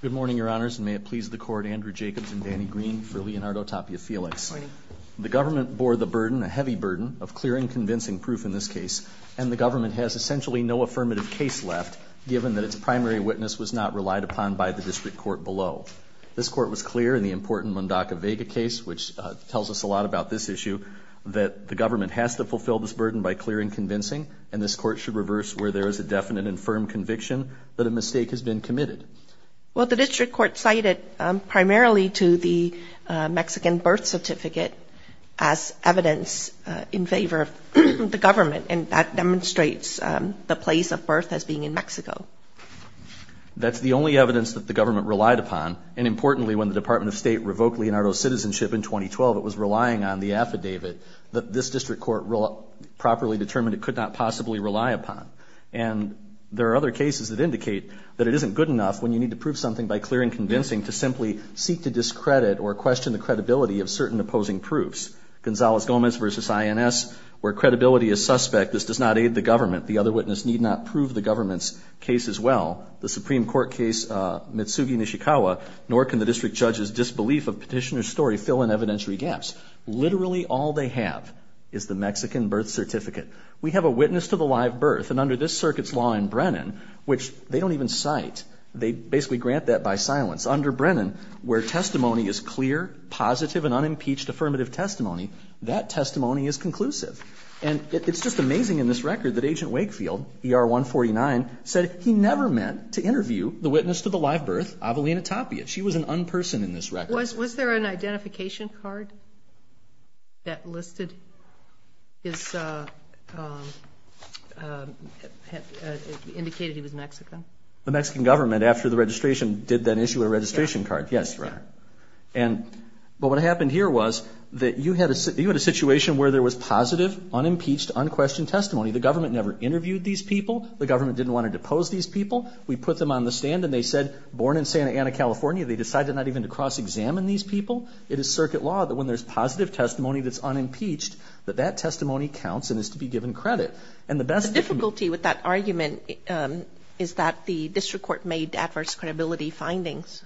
Good morning, Your Honors, and may it please the Court, Andrew Jacobs and Danny Green for Leonardo Tapia-Felix. The Government bore the burden, a heavy burden, of clear and convincing proof in this case, and the Government has essentially no affirmative case left, given that its primary witness was not relied upon by the District Court below. This Court was clear in the important Mundaka Vega case, which tells us a lot about this issue, that the Government has to fulfill this burden by clear and convincing, and this Court should reverse where there is a definite and firm conviction that a mistake has been committed. Well, the District Court cited primarily to the Mexican birth certificate as evidence in favor of the Government, and that demonstrates the place of birth as being in Mexico. That's the only evidence that the Government relied upon, and importantly, when the Department of State revoked Leonardo's citizenship in 2012, it was relying on the affidavit that this District Court properly determined it could not possibly rely upon. And there are other cases that indicate that it isn't good enough when you need to prove something by clear and convincing to simply seek to discredit or question the credibility of certain opposing proofs. Gonzales-Gomez v. INS, where credibility is suspect, this does not aid the Government. The other witness need not prove the Government's case as well. The Supreme Court case Mitsugi Nishikawa, nor can the District Judge's disbelief of petitioner's story fill in evidentiary gaps. Literally all they have is the Mexican birth certificate. We have a witness to the live birth, and under this circuit's law in Brennan, which they don't even cite, they basically grant that by silence. Under Brennan, where testimony is clear, positive, and unimpeached affirmative testimony, that testimony is conclusive. And it's just amazing in this record that Agent Wakefield, ER-149, said he never meant to interview the witness to the live birth, Avelina Tapia. She was an un-person in this record. Was there an identification card that listed his, indicated he was Mexican? The Mexican Government, after the registration, did then issue a registration card. Yes, Your Honor. But what happened here was that you had a situation where there was positive, unimpeached, unquestioned testimony. The Government never interviewed these people. The Government didn't want to depose these people. We put them on the stand, and they said, born in Santa Ana, California, they decided not even to cross-examine these people. It is circuit law that when there's positive testimony that's unimpeached, that that testimony counts and is to be given credit. The difficulty with that argument is that the district court made adverse credibility findings.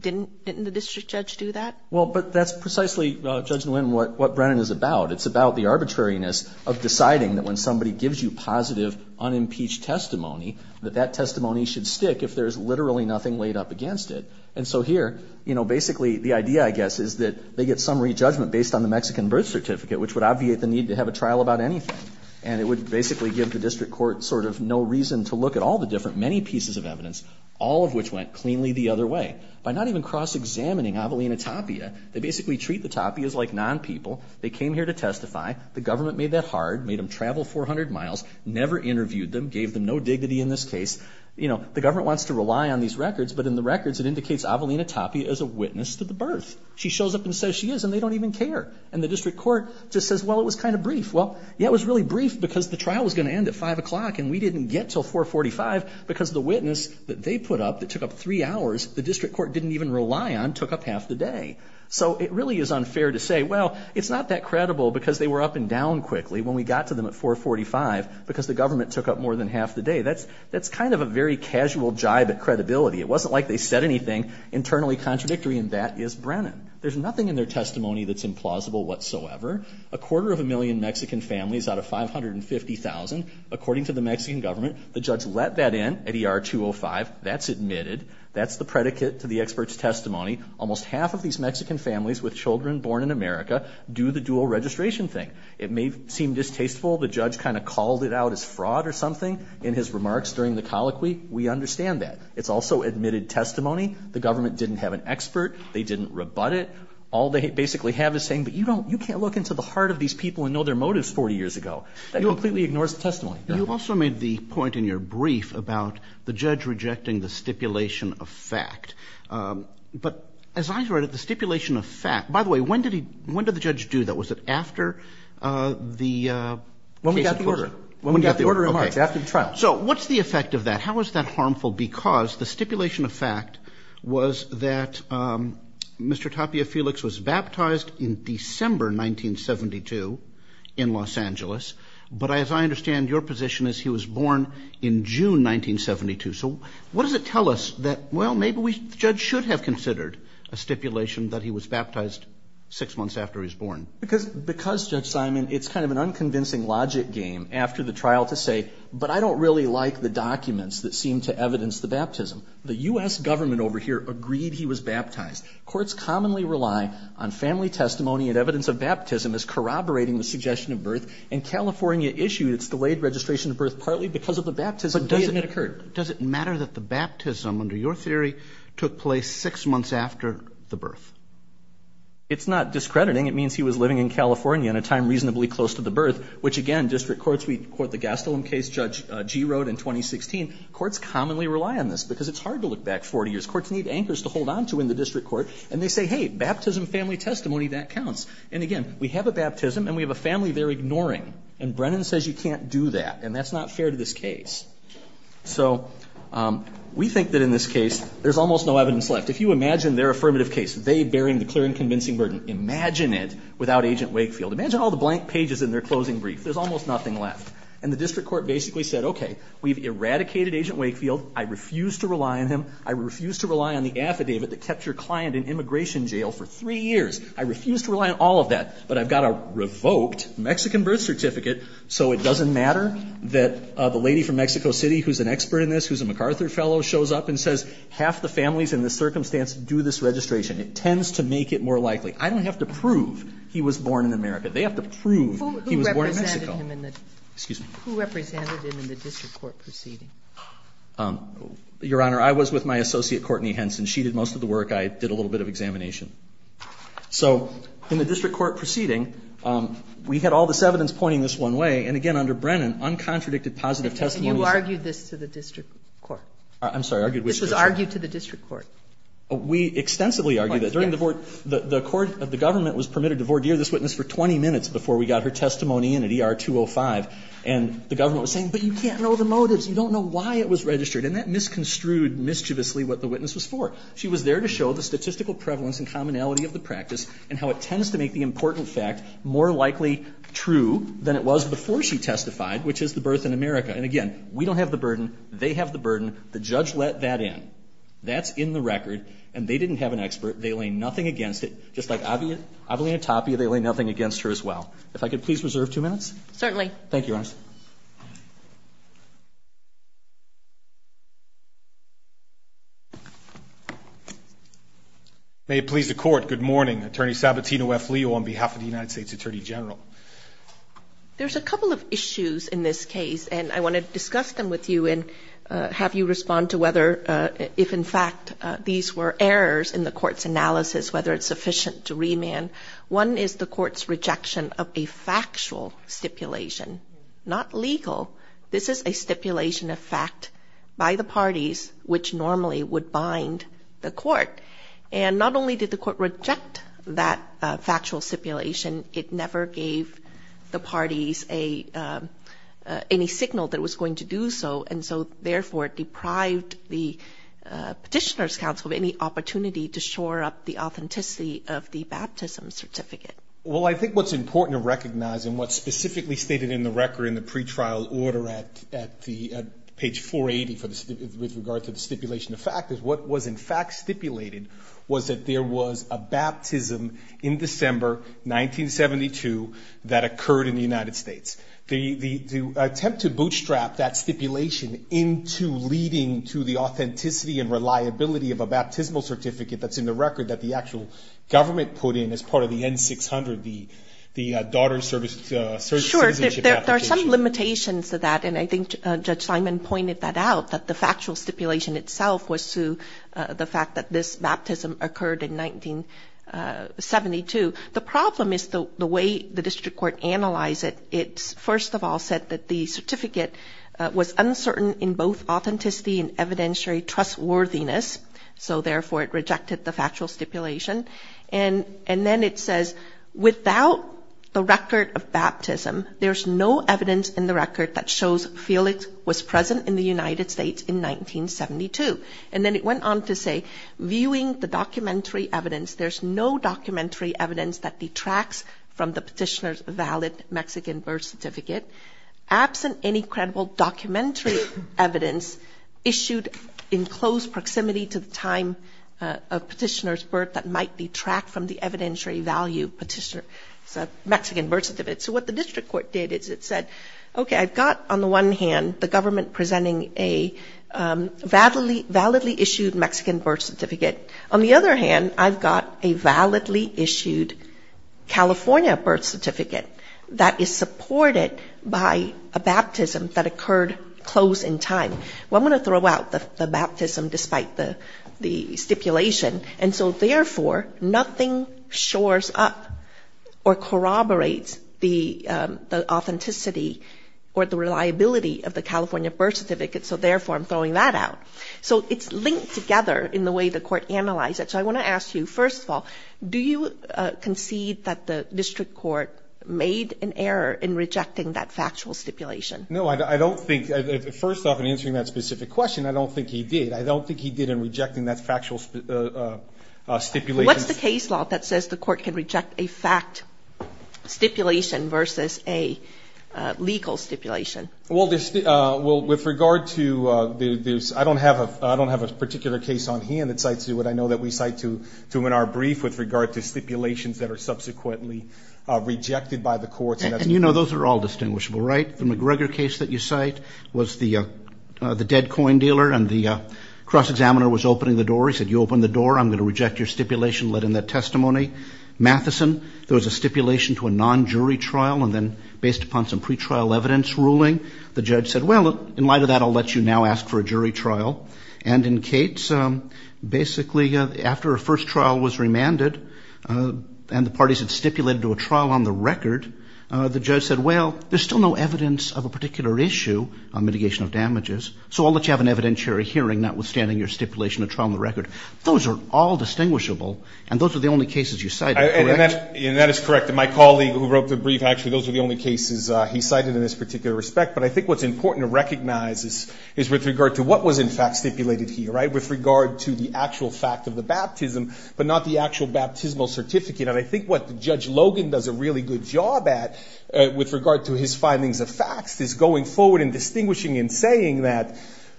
Didn't the district judge do that? Well, but that's precisely, Judge Nguyen, what Brennan is about. It's about the arbitrariness of deciding that when somebody gives you positive, unimpeached testimony, that that testimony should stick if there's literally nothing laid up against it. And so here, you know, basically the idea, I guess, is that they get summary judgment based on the Mexican birth certificate, which would obviate the need to have a trial about anything. And it would basically give the district court sort of no reason to look at all the different, many pieces of evidence, all of which went cleanly the other way. By not even cross-examining Avelina Tapia, they basically treat the Tapias like non-people. They came here to testify. The Government made that hard, made them travel 400 miles, never interviewed them, gave them no dignity in this case. You know, the Government wants to rely on these records, but in the records it indicates Avelina Tapia is a witness to the birth. She shows up and says she is, and they don't even care. And the district court just says, well, it was kind of brief. Well, yeah, it was really brief because the trial was going to end at 5 o'clock, and we didn't get till 445 because the witness that they put up that took up three hours, the district court didn't even rely on, took up half the day. So it really is unfair to say, well, it's not that credible because they were up and down quickly when we got to them at 445 because the Government took up more than half the day. That's kind of a very casual jibe at credibility. It wasn't like they said anything internally contradictory, and that is Brennan. There's nothing in their testimony that's implausible whatsoever. A quarter of a million Mexican families out of 550,000, according to the Mexican Government, the judge let that in at ER 205. That's admitted. That's the predicate to the expert's testimony. Almost half of these Mexican families with children born in America do the dual-registration thing. It may seem distasteful. The judge kind of called it out as fraud or something in his remarks during the colloquy. We understand that. It's also admitted testimony. The Government didn't have an expert. They didn't rebut it. All they basically have is saying, but you can't look into the heart of these people and know their motives 40 years ago. That completely ignores the testimony. You also made the point in your brief about the judge rejecting the stipulation of fact. But as I heard it, the stipulation of fact, by the way, when did the judge do that? Was it after the case? When we got the order. When we got the order in March, after the trial. So what's the effect of that? How is that harmful? Because the stipulation of fact was that Mr. Tapia Felix was baptized in December 1972 in Los Angeles. But as I understand, your position is he was born in June 1972. So what does it tell us that, well, maybe the judge should have considered a stipulation that he was baptized six months after he was born? Because, Judge Simon, it's kind of an unconvincing logic game after the trial to say, but I don't really like the documents that seem to evidence the baptism. The U.S. government over here agreed he was baptized. Courts commonly rely on family testimony and evidence of baptism as corroborating the suggestion of birth. In California issued, it's delayed registration of birth partly because of the baptism. But doesn't it occur? Does it matter that the baptism, under your theory, took place six months after the birth? It's not discrediting. It means he was living in California in a time reasonably close to the birth, which again, district courts, we quote the Gastelum case Judge Gee wrote in 2016. Courts commonly rely on this because it's hard to look back 40 years. Courts need anchors to hold on to in the district court. And they say, hey, baptism, family testimony, that counts. And again, we have a baptism and we have a family they're ignoring. And Brennan says you can't do that. And that's not fair to this case. So we think that in this case there's almost no evidence left. If you imagine their affirmative case, they bearing the clear and convincing burden. Imagine it without Agent Wakefield. Imagine all the blank pages in their closing brief. There's almost nothing left. And the district court basically said, okay, we've eradicated Agent Wakefield. I refuse to rely on him. I refuse to rely on the affidavit that kept your client in immigration jail for three years. I refuse to rely on all of that. But I've got a revoked Mexican birth certificate so it doesn't matter that the lady from Mexico City who's an expert in this, who's a MacArthur fellow, shows up and says half the families in this circumstance do this registration. It tends to make it more likely. I don't have to prove he was born in America. They have to prove he was born in Mexico. Who represented him in the district court proceeding? Your Honor, I was with my associate, Courtney Henson. She did most of the work. I did a little bit of examination. So in the district court proceeding, we had all this evidence pointing this one way. And again, under Brennan, uncontradicted positive testimonies. And you argued this to the district court? I'm sorry, argued which district court? This was argued to the district court. We extensively argued that. During the court, the court, the government was permitted to vordeer this witness for 20 minutes before we got her testimony in at ER 205. And the government was saying, but you can't know the motives. You don't know why it was registered. And that misconstrued mischievously what the witness was for. She was there to show the statistical prevalence and commonality of the practice and how it tends to make the important fact more likely true than it was before she testified, which is the birth in America. And again, we don't have the burden. They have the burden. The judge let that in. That's in the record. And they didn't have an expert. They lay nothing against it. Just like Avelina Tapia, they lay nothing against her as well. If I could please reserve two minutes? Certainly. Thank you, Your Honor. May it please the Court, good morning. Attorney Sabatino F. Leo on behalf of the United States Attorney General. There's a couple of issues in this case, and I want to discuss them with you and have you respond to whether if, in fact, these were errors in the court's analysis, whether it's sufficient to remand. One is the court's rejection of a factual stipulation, not legal. This is a stipulation of fact by the parties, which normally would bind the court. And not only did the court reject that factual stipulation, it never gave the parties any signal that it was going to do so. And so, therefore, it deprived the Petitioner's Council of any opportunity to shore up the authenticity of the baptism certificate. Well, I think what's important to recognize and what's specifically stated in the record in the pretrial order at page 480 with regard to the stipulation of fact is what was in fact stipulated was that there was a baptism in December 1972 that occurred in the United States. The attempt to bootstrap that stipulation into leading to the authenticity and reliability of a baptismal certificate that's in the record that the actual government put in as part of the N-600, the daughter's citizenship application. Sure, there are some limitations to that, and I think Judge Simon pointed that out, that the factual stipulation itself was to the fact that this baptism occurred in 1972. The problem is the way the district court analyzed it. It first of all said that the certificate was uncertain in both authenticity and evidentiary trustworthiness. So, therefore, it rejected the factual stipulation. And then it says, without the record of baptism, there's no evidence in the record that shows Felix was present in the United States in 1972. And then it went on to say, viewing the documentary evidence, there's no documentary evidence that detracts from the petitioner's valid Mexican birth certificate, absent any credible documentary evidence issued in close proximity to the time of petitioner's birth that might detract from the evidentiary value petitioner's Mexican birth certificate. So what the district court did is it said, okay, I've got on the one hand the government presenting a validly issued Mexican birth certificate. On the other hand, I've got a validly issued California birth certificate that is supported by a baptism that occurred close in time. Well, I'm going to throw out the baptism despite the stipulation. And so, therefore, nothing shores up or corroborates the authenticity or the reliability of the California birth certificate. So, therefore, I'm throwing that out. So it's linked together in the way the court analyzed it. So I want to ask you, first of all, do you concede that the district court made an error in rejecting that factual stipulation? No, I don't think. First off, in answering that specific question, I don't think he did. I don't think he did in rejecting that factual stipulation. What's the case law that says the court can reject a fact stipulation versus a legal stipulation? Well, with regard to this, I don't have a particular case on hand that cites what I know that we cite to him in our brief with regard to stipulations that are subsequently rejected by the courts. And you know those are all distinguishable, right? The McGregor case that you cite was the dead coin dealer and the cross-examiner was opening the door. He said, you open the door, I'm going to reject your stipulation, let in that testimony. Matheson, there was a stipulation to a non-jury trial and then based upon some pretrial evidence ruling, the judge said, well, in light of that I'll let you now ask for a jury trial. And in Cates, basically after a first trial was remanded and the parties had stipulated to a trial on the record, the judge said, well, there's still no evidence of a particular issue on mitigation of damages, so I'll let you have an evidentiary hearing notwithstanding your stipulation to trial on the record. Those are all distinguishable and those are the only cases you cite, correct? And that is correct. My colleague who wrote the brief actually, those are the only cases he cited in this particular respect. But I think what's important to recognize is with regard to what was in fact stipulated here, right, with regard to the actual fact of the baptism, but not the actual baptismal certificate. And I think what Judge Logan does a really good job at with regard to his findings of facts is going forward and distinguishing and saying that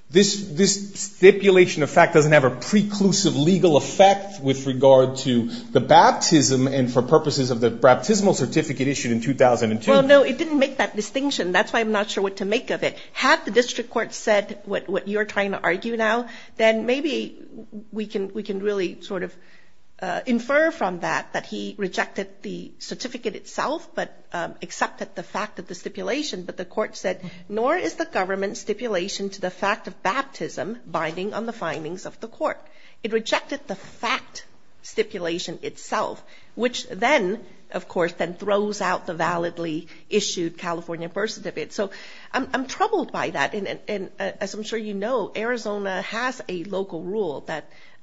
this stipulation of fact doesn't have a preclusive legal effect with regard to the baptism and for purposes of the baptismal certificate issued in 2002. Well, no, it didn't make that distinction. That's why I'm not sure what to make of it. Had the district court said what you're trying to argue now, then maybe we can really sort of infer from that that he rejected the certificate itself but accepted the fact of the stipulation. But the court said, nor is the government stipulation to the fact of baptism binding on the findings of the court. It rejected the fact stipulation itself, which then, of course, then throws out the validly issued California birth certificate. So I'm troubled by that. And as I'm sure you know, Arizona has a local rule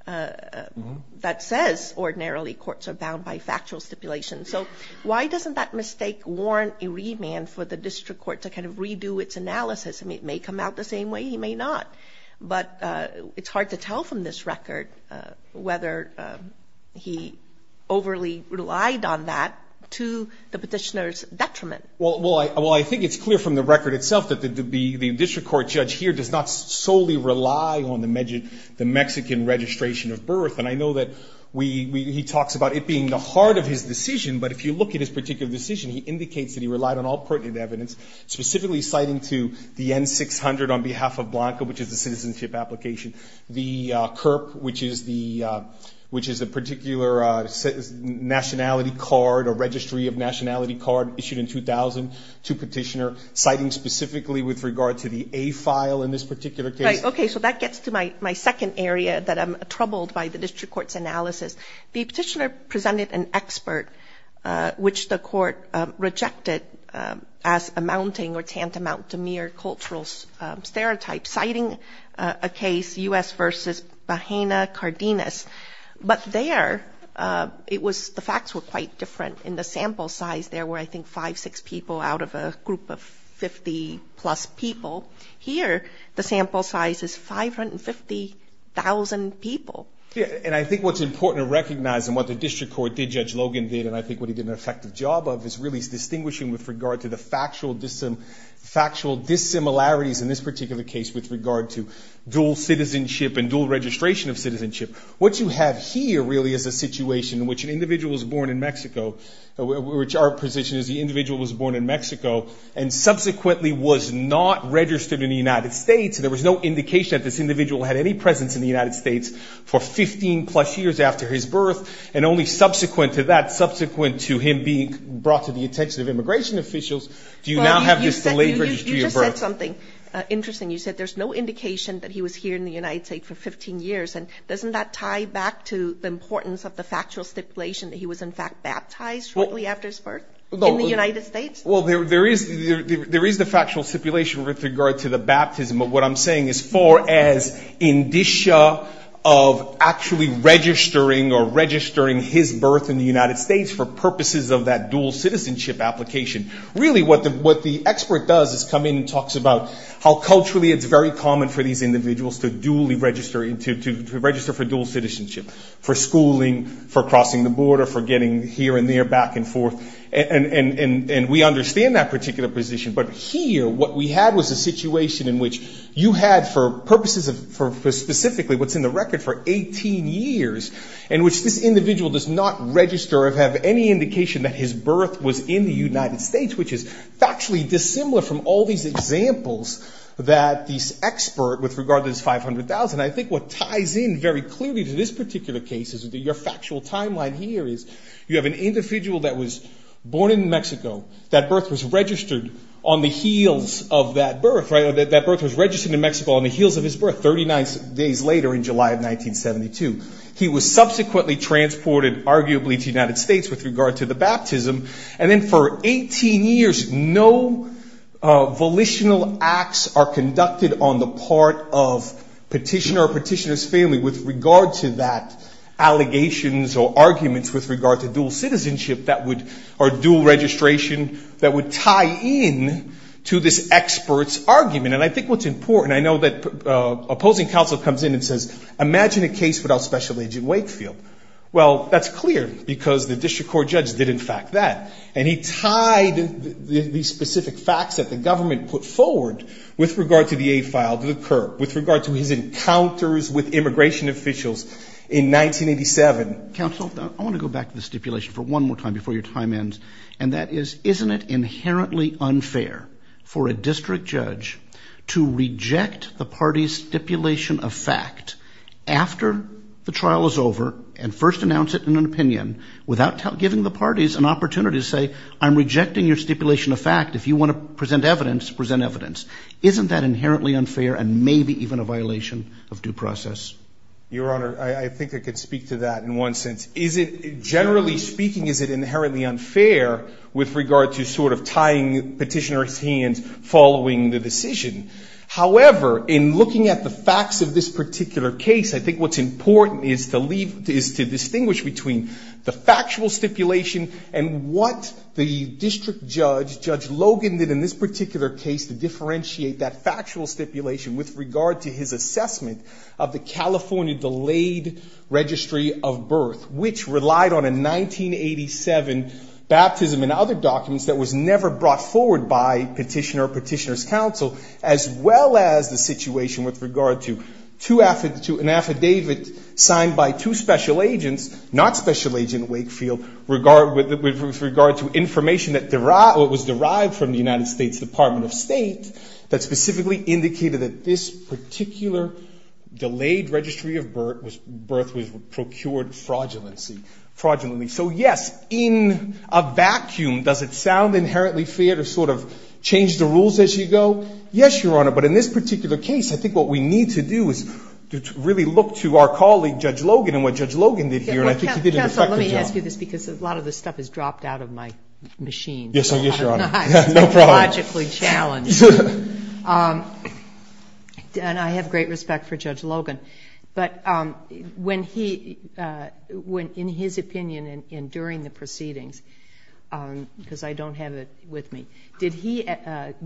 that says ordinarily courts are bound by factual stipulation. So why doesn't that mistake warrant a remand for the district court to kind of redo its analysis? It may come out the same way. It may not. But it's hard to tell from this record whether he overly relied on that to the petitioner's detriment. Well, I think it's clear from the record itself that the district court judge here does not solely rely on the Mexican registration of birth. And I know that he talks about it being the heart of his decision. But if you look at his particular decision, he indicates that he relied on all pertinent evidence, specifically citing to the N-600 on behalf of Blanca, which is a citizenship application, the CURP, which is the particular nationality card or registry of nationality card issued in 2000 to petitioner, citing specifically with regard to the A file in this particular case. Okay, so that gets to my second area that I'm troubled by the district court's analysis. The petitioner presented an expert, which the court rejected as amounting or tantamount to mere cultural stereotype, citing a case, U.S. v. Bahena-Cardenas. But there, it was the facts were quite different in the sample size. There were, I think, five, six people out of a group of 50-plus people. Here, the sample size is 550,000 people. And I think what's important to recognize and what the district court did, Judge Logan did, and I think what he did an effective job of is really distinguishing with regard to the factual dissimilarities in this particular case with regard to dual citizenship and dual registration of citizenship. What you have here really is a situation in which an individual was born in Mexico, which our position is the individual was born in Mexico, and subsequently was not registered in the United States, and there was no indication that this individual had any presence in the United States for 15-plus years after his birth, and only subsequent to that, subsequent to him being brought to the attention of immigration officials, do you now have this delayed registry of birth? You just said something interesting. You said there's no indication that he was here in the United States for 15 years, and doesn't that tie back to the importance of the factual stipulation that he was, in fact, baptized shortly after his birth in the United States? Well, there is the factual stipulation with regard to the baptism, but what I'm saying as far as indicia of actually registering or registering his birth in the United States for purposes of that dual citizenship application, really what the expert does is come in and talks about how culturally it's very common for these individuals to register for dual citizenship, for schooling, for crossing the border, for getting here and there, back and forth, and we understand that particular position, but here what we had was a situation in which you had for purposes of specifically what's in the record for 18 years, in which this individual does not register or have any indication that his birth was in the United States, which is factually dissimilar from all these examples that this expert, with regard to this 500,000, I think what ties in very clearly to this particular case is that your factual timeline here is you have an individual that was born in Mexico, that birth was registered on the heels of that birth, right? That birth was registered in Mexico on the heels of his birth 39 days later in July of 1972. He was subsequently transported, arguably, to the United States with regard to the baptism, and then for 18 years no volitional acts are conducted on the part of petitioner or petitioner's family with regard to that allegations or arguments with regard to dual citizenship or dual registration that would tie in to this expert's argument. And I think what's important, I know that opposing counsel comes in and says, imagine a case without Special Agent Wakefield. Well, that's clear, because the district court judge did, in fact, that. And he tied these specific facts that the government put forward with regard to the aid filed to the curb, with regard to his encounters with immigration officials in 1987. Counsel, I want to go back to the stipulation for one more time before your time ends, and that is, isn't it inherently unfair for a district judge to reject the party's stipulation of fact after the trial is over and first announce it in an opinion without giving the parties an opportunity to say, I'm rejecting your stipulation of fact. If you want to present evidence, present evidence. Isn't that inherently unfair and maybe even a violation of due process? Your Honor, I think I could speak to that in one sense. Is it, generally speaking, is it inherently unfair with regard to sort of tying petitioner's hands following the decision? However, in looking at the facts of this particular case, I think what's important is to leave, is to distinguish between the factual stipulation and what the district judge, Judge Logan, did in this particular case to differentiate that factual stipulation with regard to his assessment of the California delayed registry of birth, which relied on a 1987 baptism and other documents that was never brought forward by petitioner or petitioner's counsel, as well as the situation with regard to an affidavit signed by two special agents, not special agent Wakefield, with regard to information that was derived from the United States Department of State that specifically indicated that this particular delayed registry of birth was procured fraudulently. So, yes, in a vacuum, does it sound inherently fair to sort of change the rules as you go? Yes, Your Honor, but in this particular case, I think what we need to do is really look to our colleague, Judge Logan, and what Judge Logan did here. Counsel, let me ask you this, because a lot of this stuff has dropped out of my machine. Yes, Your Honor, no problem. And I have great respect for Judge Logan, but when he, in his opinion, and during the proceedings, because I don't have it with me, did he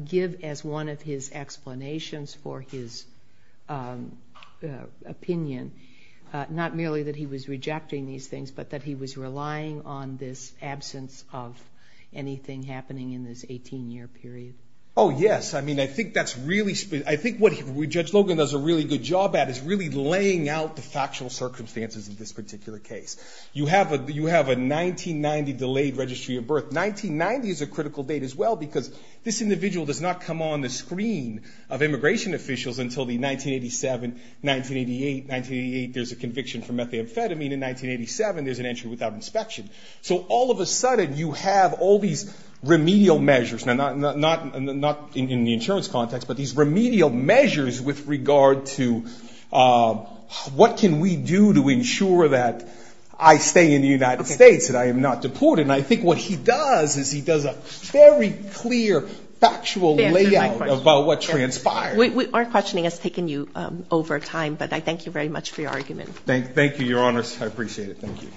give as one of his explanations for his opinion, not merely that he was rejecting the information, but that he was relying on this absence of anything happening in this 18-year period? Oh, yes. I mean, I think that's really, I think what Judge Logan does a really good job at is really laying out the factual circumstances of this particular case. You have a 1990 delayed registry of birth. 1990 is a critical date, as well, because this individual does not come on the screen of immigration officials until the 1987, 1988. 1988, there's a conviction for methamphetamine. In 1987, there's a conviction for methamphetamine. In 1987, there's an entry without inspection. So all of a sudden, you have all these remedial measures, not in the insurance context, but these remedial measures with regard to what can we do to ensure that I stay in the United States and I am not deported. And I think what he does is he does a very clear factual layout about what transpired. We aren't questioning us taking you over time, but I thank you very much for your argument. Thank you, Your Honors. I appreciate it. Thank you.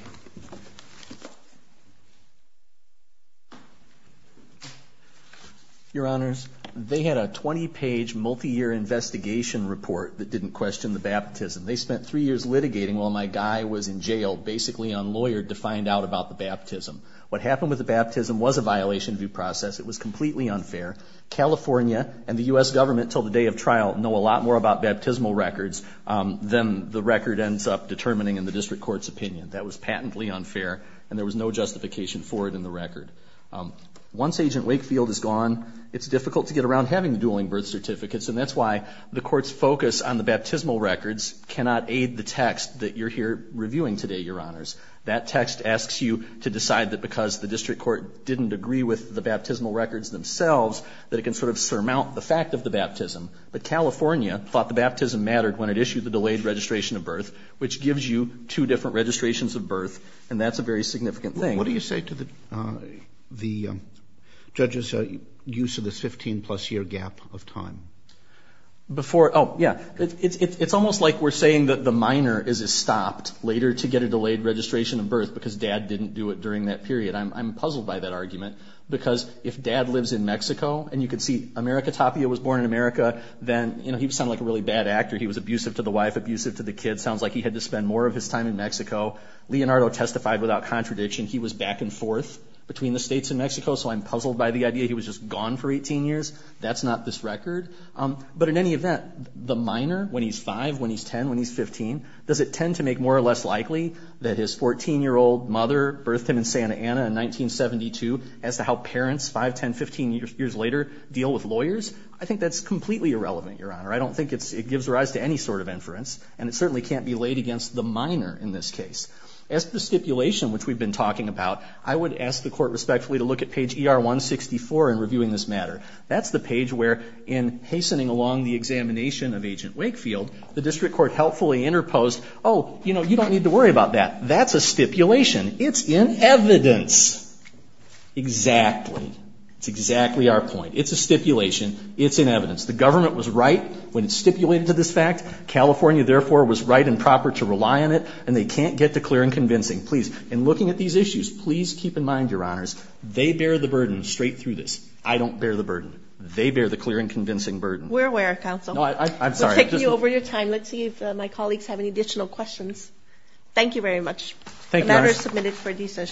Your Honors, they had a 20-page multiyear investigation report that didn't question the baptism. They spent three years litigating while my guy was in jail, basically unlawyered, to find out about the baptism. What happened with the baptism was a violation of due process. It was completely unfair. California and the U.S. government, until the day of trial, know a lot more about baptismal records than the record and some of the facts up determining in the district court's opinion. That was patently unfair, and there was no justification for it in the record. Once Agent Wakefield is gone, it's difficult to get around having the dueling birth certificates, and that's why the court's focus on the baptismal records cannot aid the text that you're here reviewing today, Your Honors. That text asks you to decide that because the district court didn't agree with the baptismal records themselves, that it can sort of surmount the fact of the baptism. But California thought the baptism mattered when it issued the delayed registration of birth, which gives you two different registrations of birth, and that's a very significant thing. What do you say to the judge's use of this 15-plus year gap of time? It's almost like we're saying that the minor is stopped later to get a delayed registration of birth because dad didn't do it during that period. I'm puzzled by that argument because if dad lives in Mexico, and you can see America Tapia was born in America, then he would sound like a really bad actor. He was abusive to the wife, abusive to the kids. Sounds like he had to spend more of his time in Mexico. Leonardo testified without contradiction. He was back and forth between the states and Mexico, so I'm puzzled by the idea he was just gone for 18 years. That's not this record. But in any event, the minor, when he's 5, when he's 10, when he's 15, does it tend to make more or less likely that his 14-year-old mother birthed him in Santa Ana in 1972 as to how parents 5, 10, 15 years later deal with lawyers? I think that's completely irrelevant, Your Honor. I don't think it gives rise to any sort of inference, and it certainly can't be laid against the minor in this case. As to the stipulation, which we've been talking about, I would ask the Court respectfully to look at page ER-164 in reviewing this matter. That's the page where, in hastening along the examination of Agent Wakefield, the District Court helpfully interposed, oh, you know, you don't need to worry about that. That's a stipulation. It's in evidence. Exactly. It's exactly our point. It's a stipulation. It's in evidence. The government was right when it stipulated to this fact. California, therefore, was right and proper to rely on it, and they can't get to clear and convincing. Please, in looking at these issues, please keep in mind, Your Honors, they bear the burden straight through this. I don't bear the burden. They bear the clear and convincing burden. We're aware, Counsel. We're taking you over your time. Let's see if my colleagues have any additional questions. Thank you very much. The matter is submitted for decision.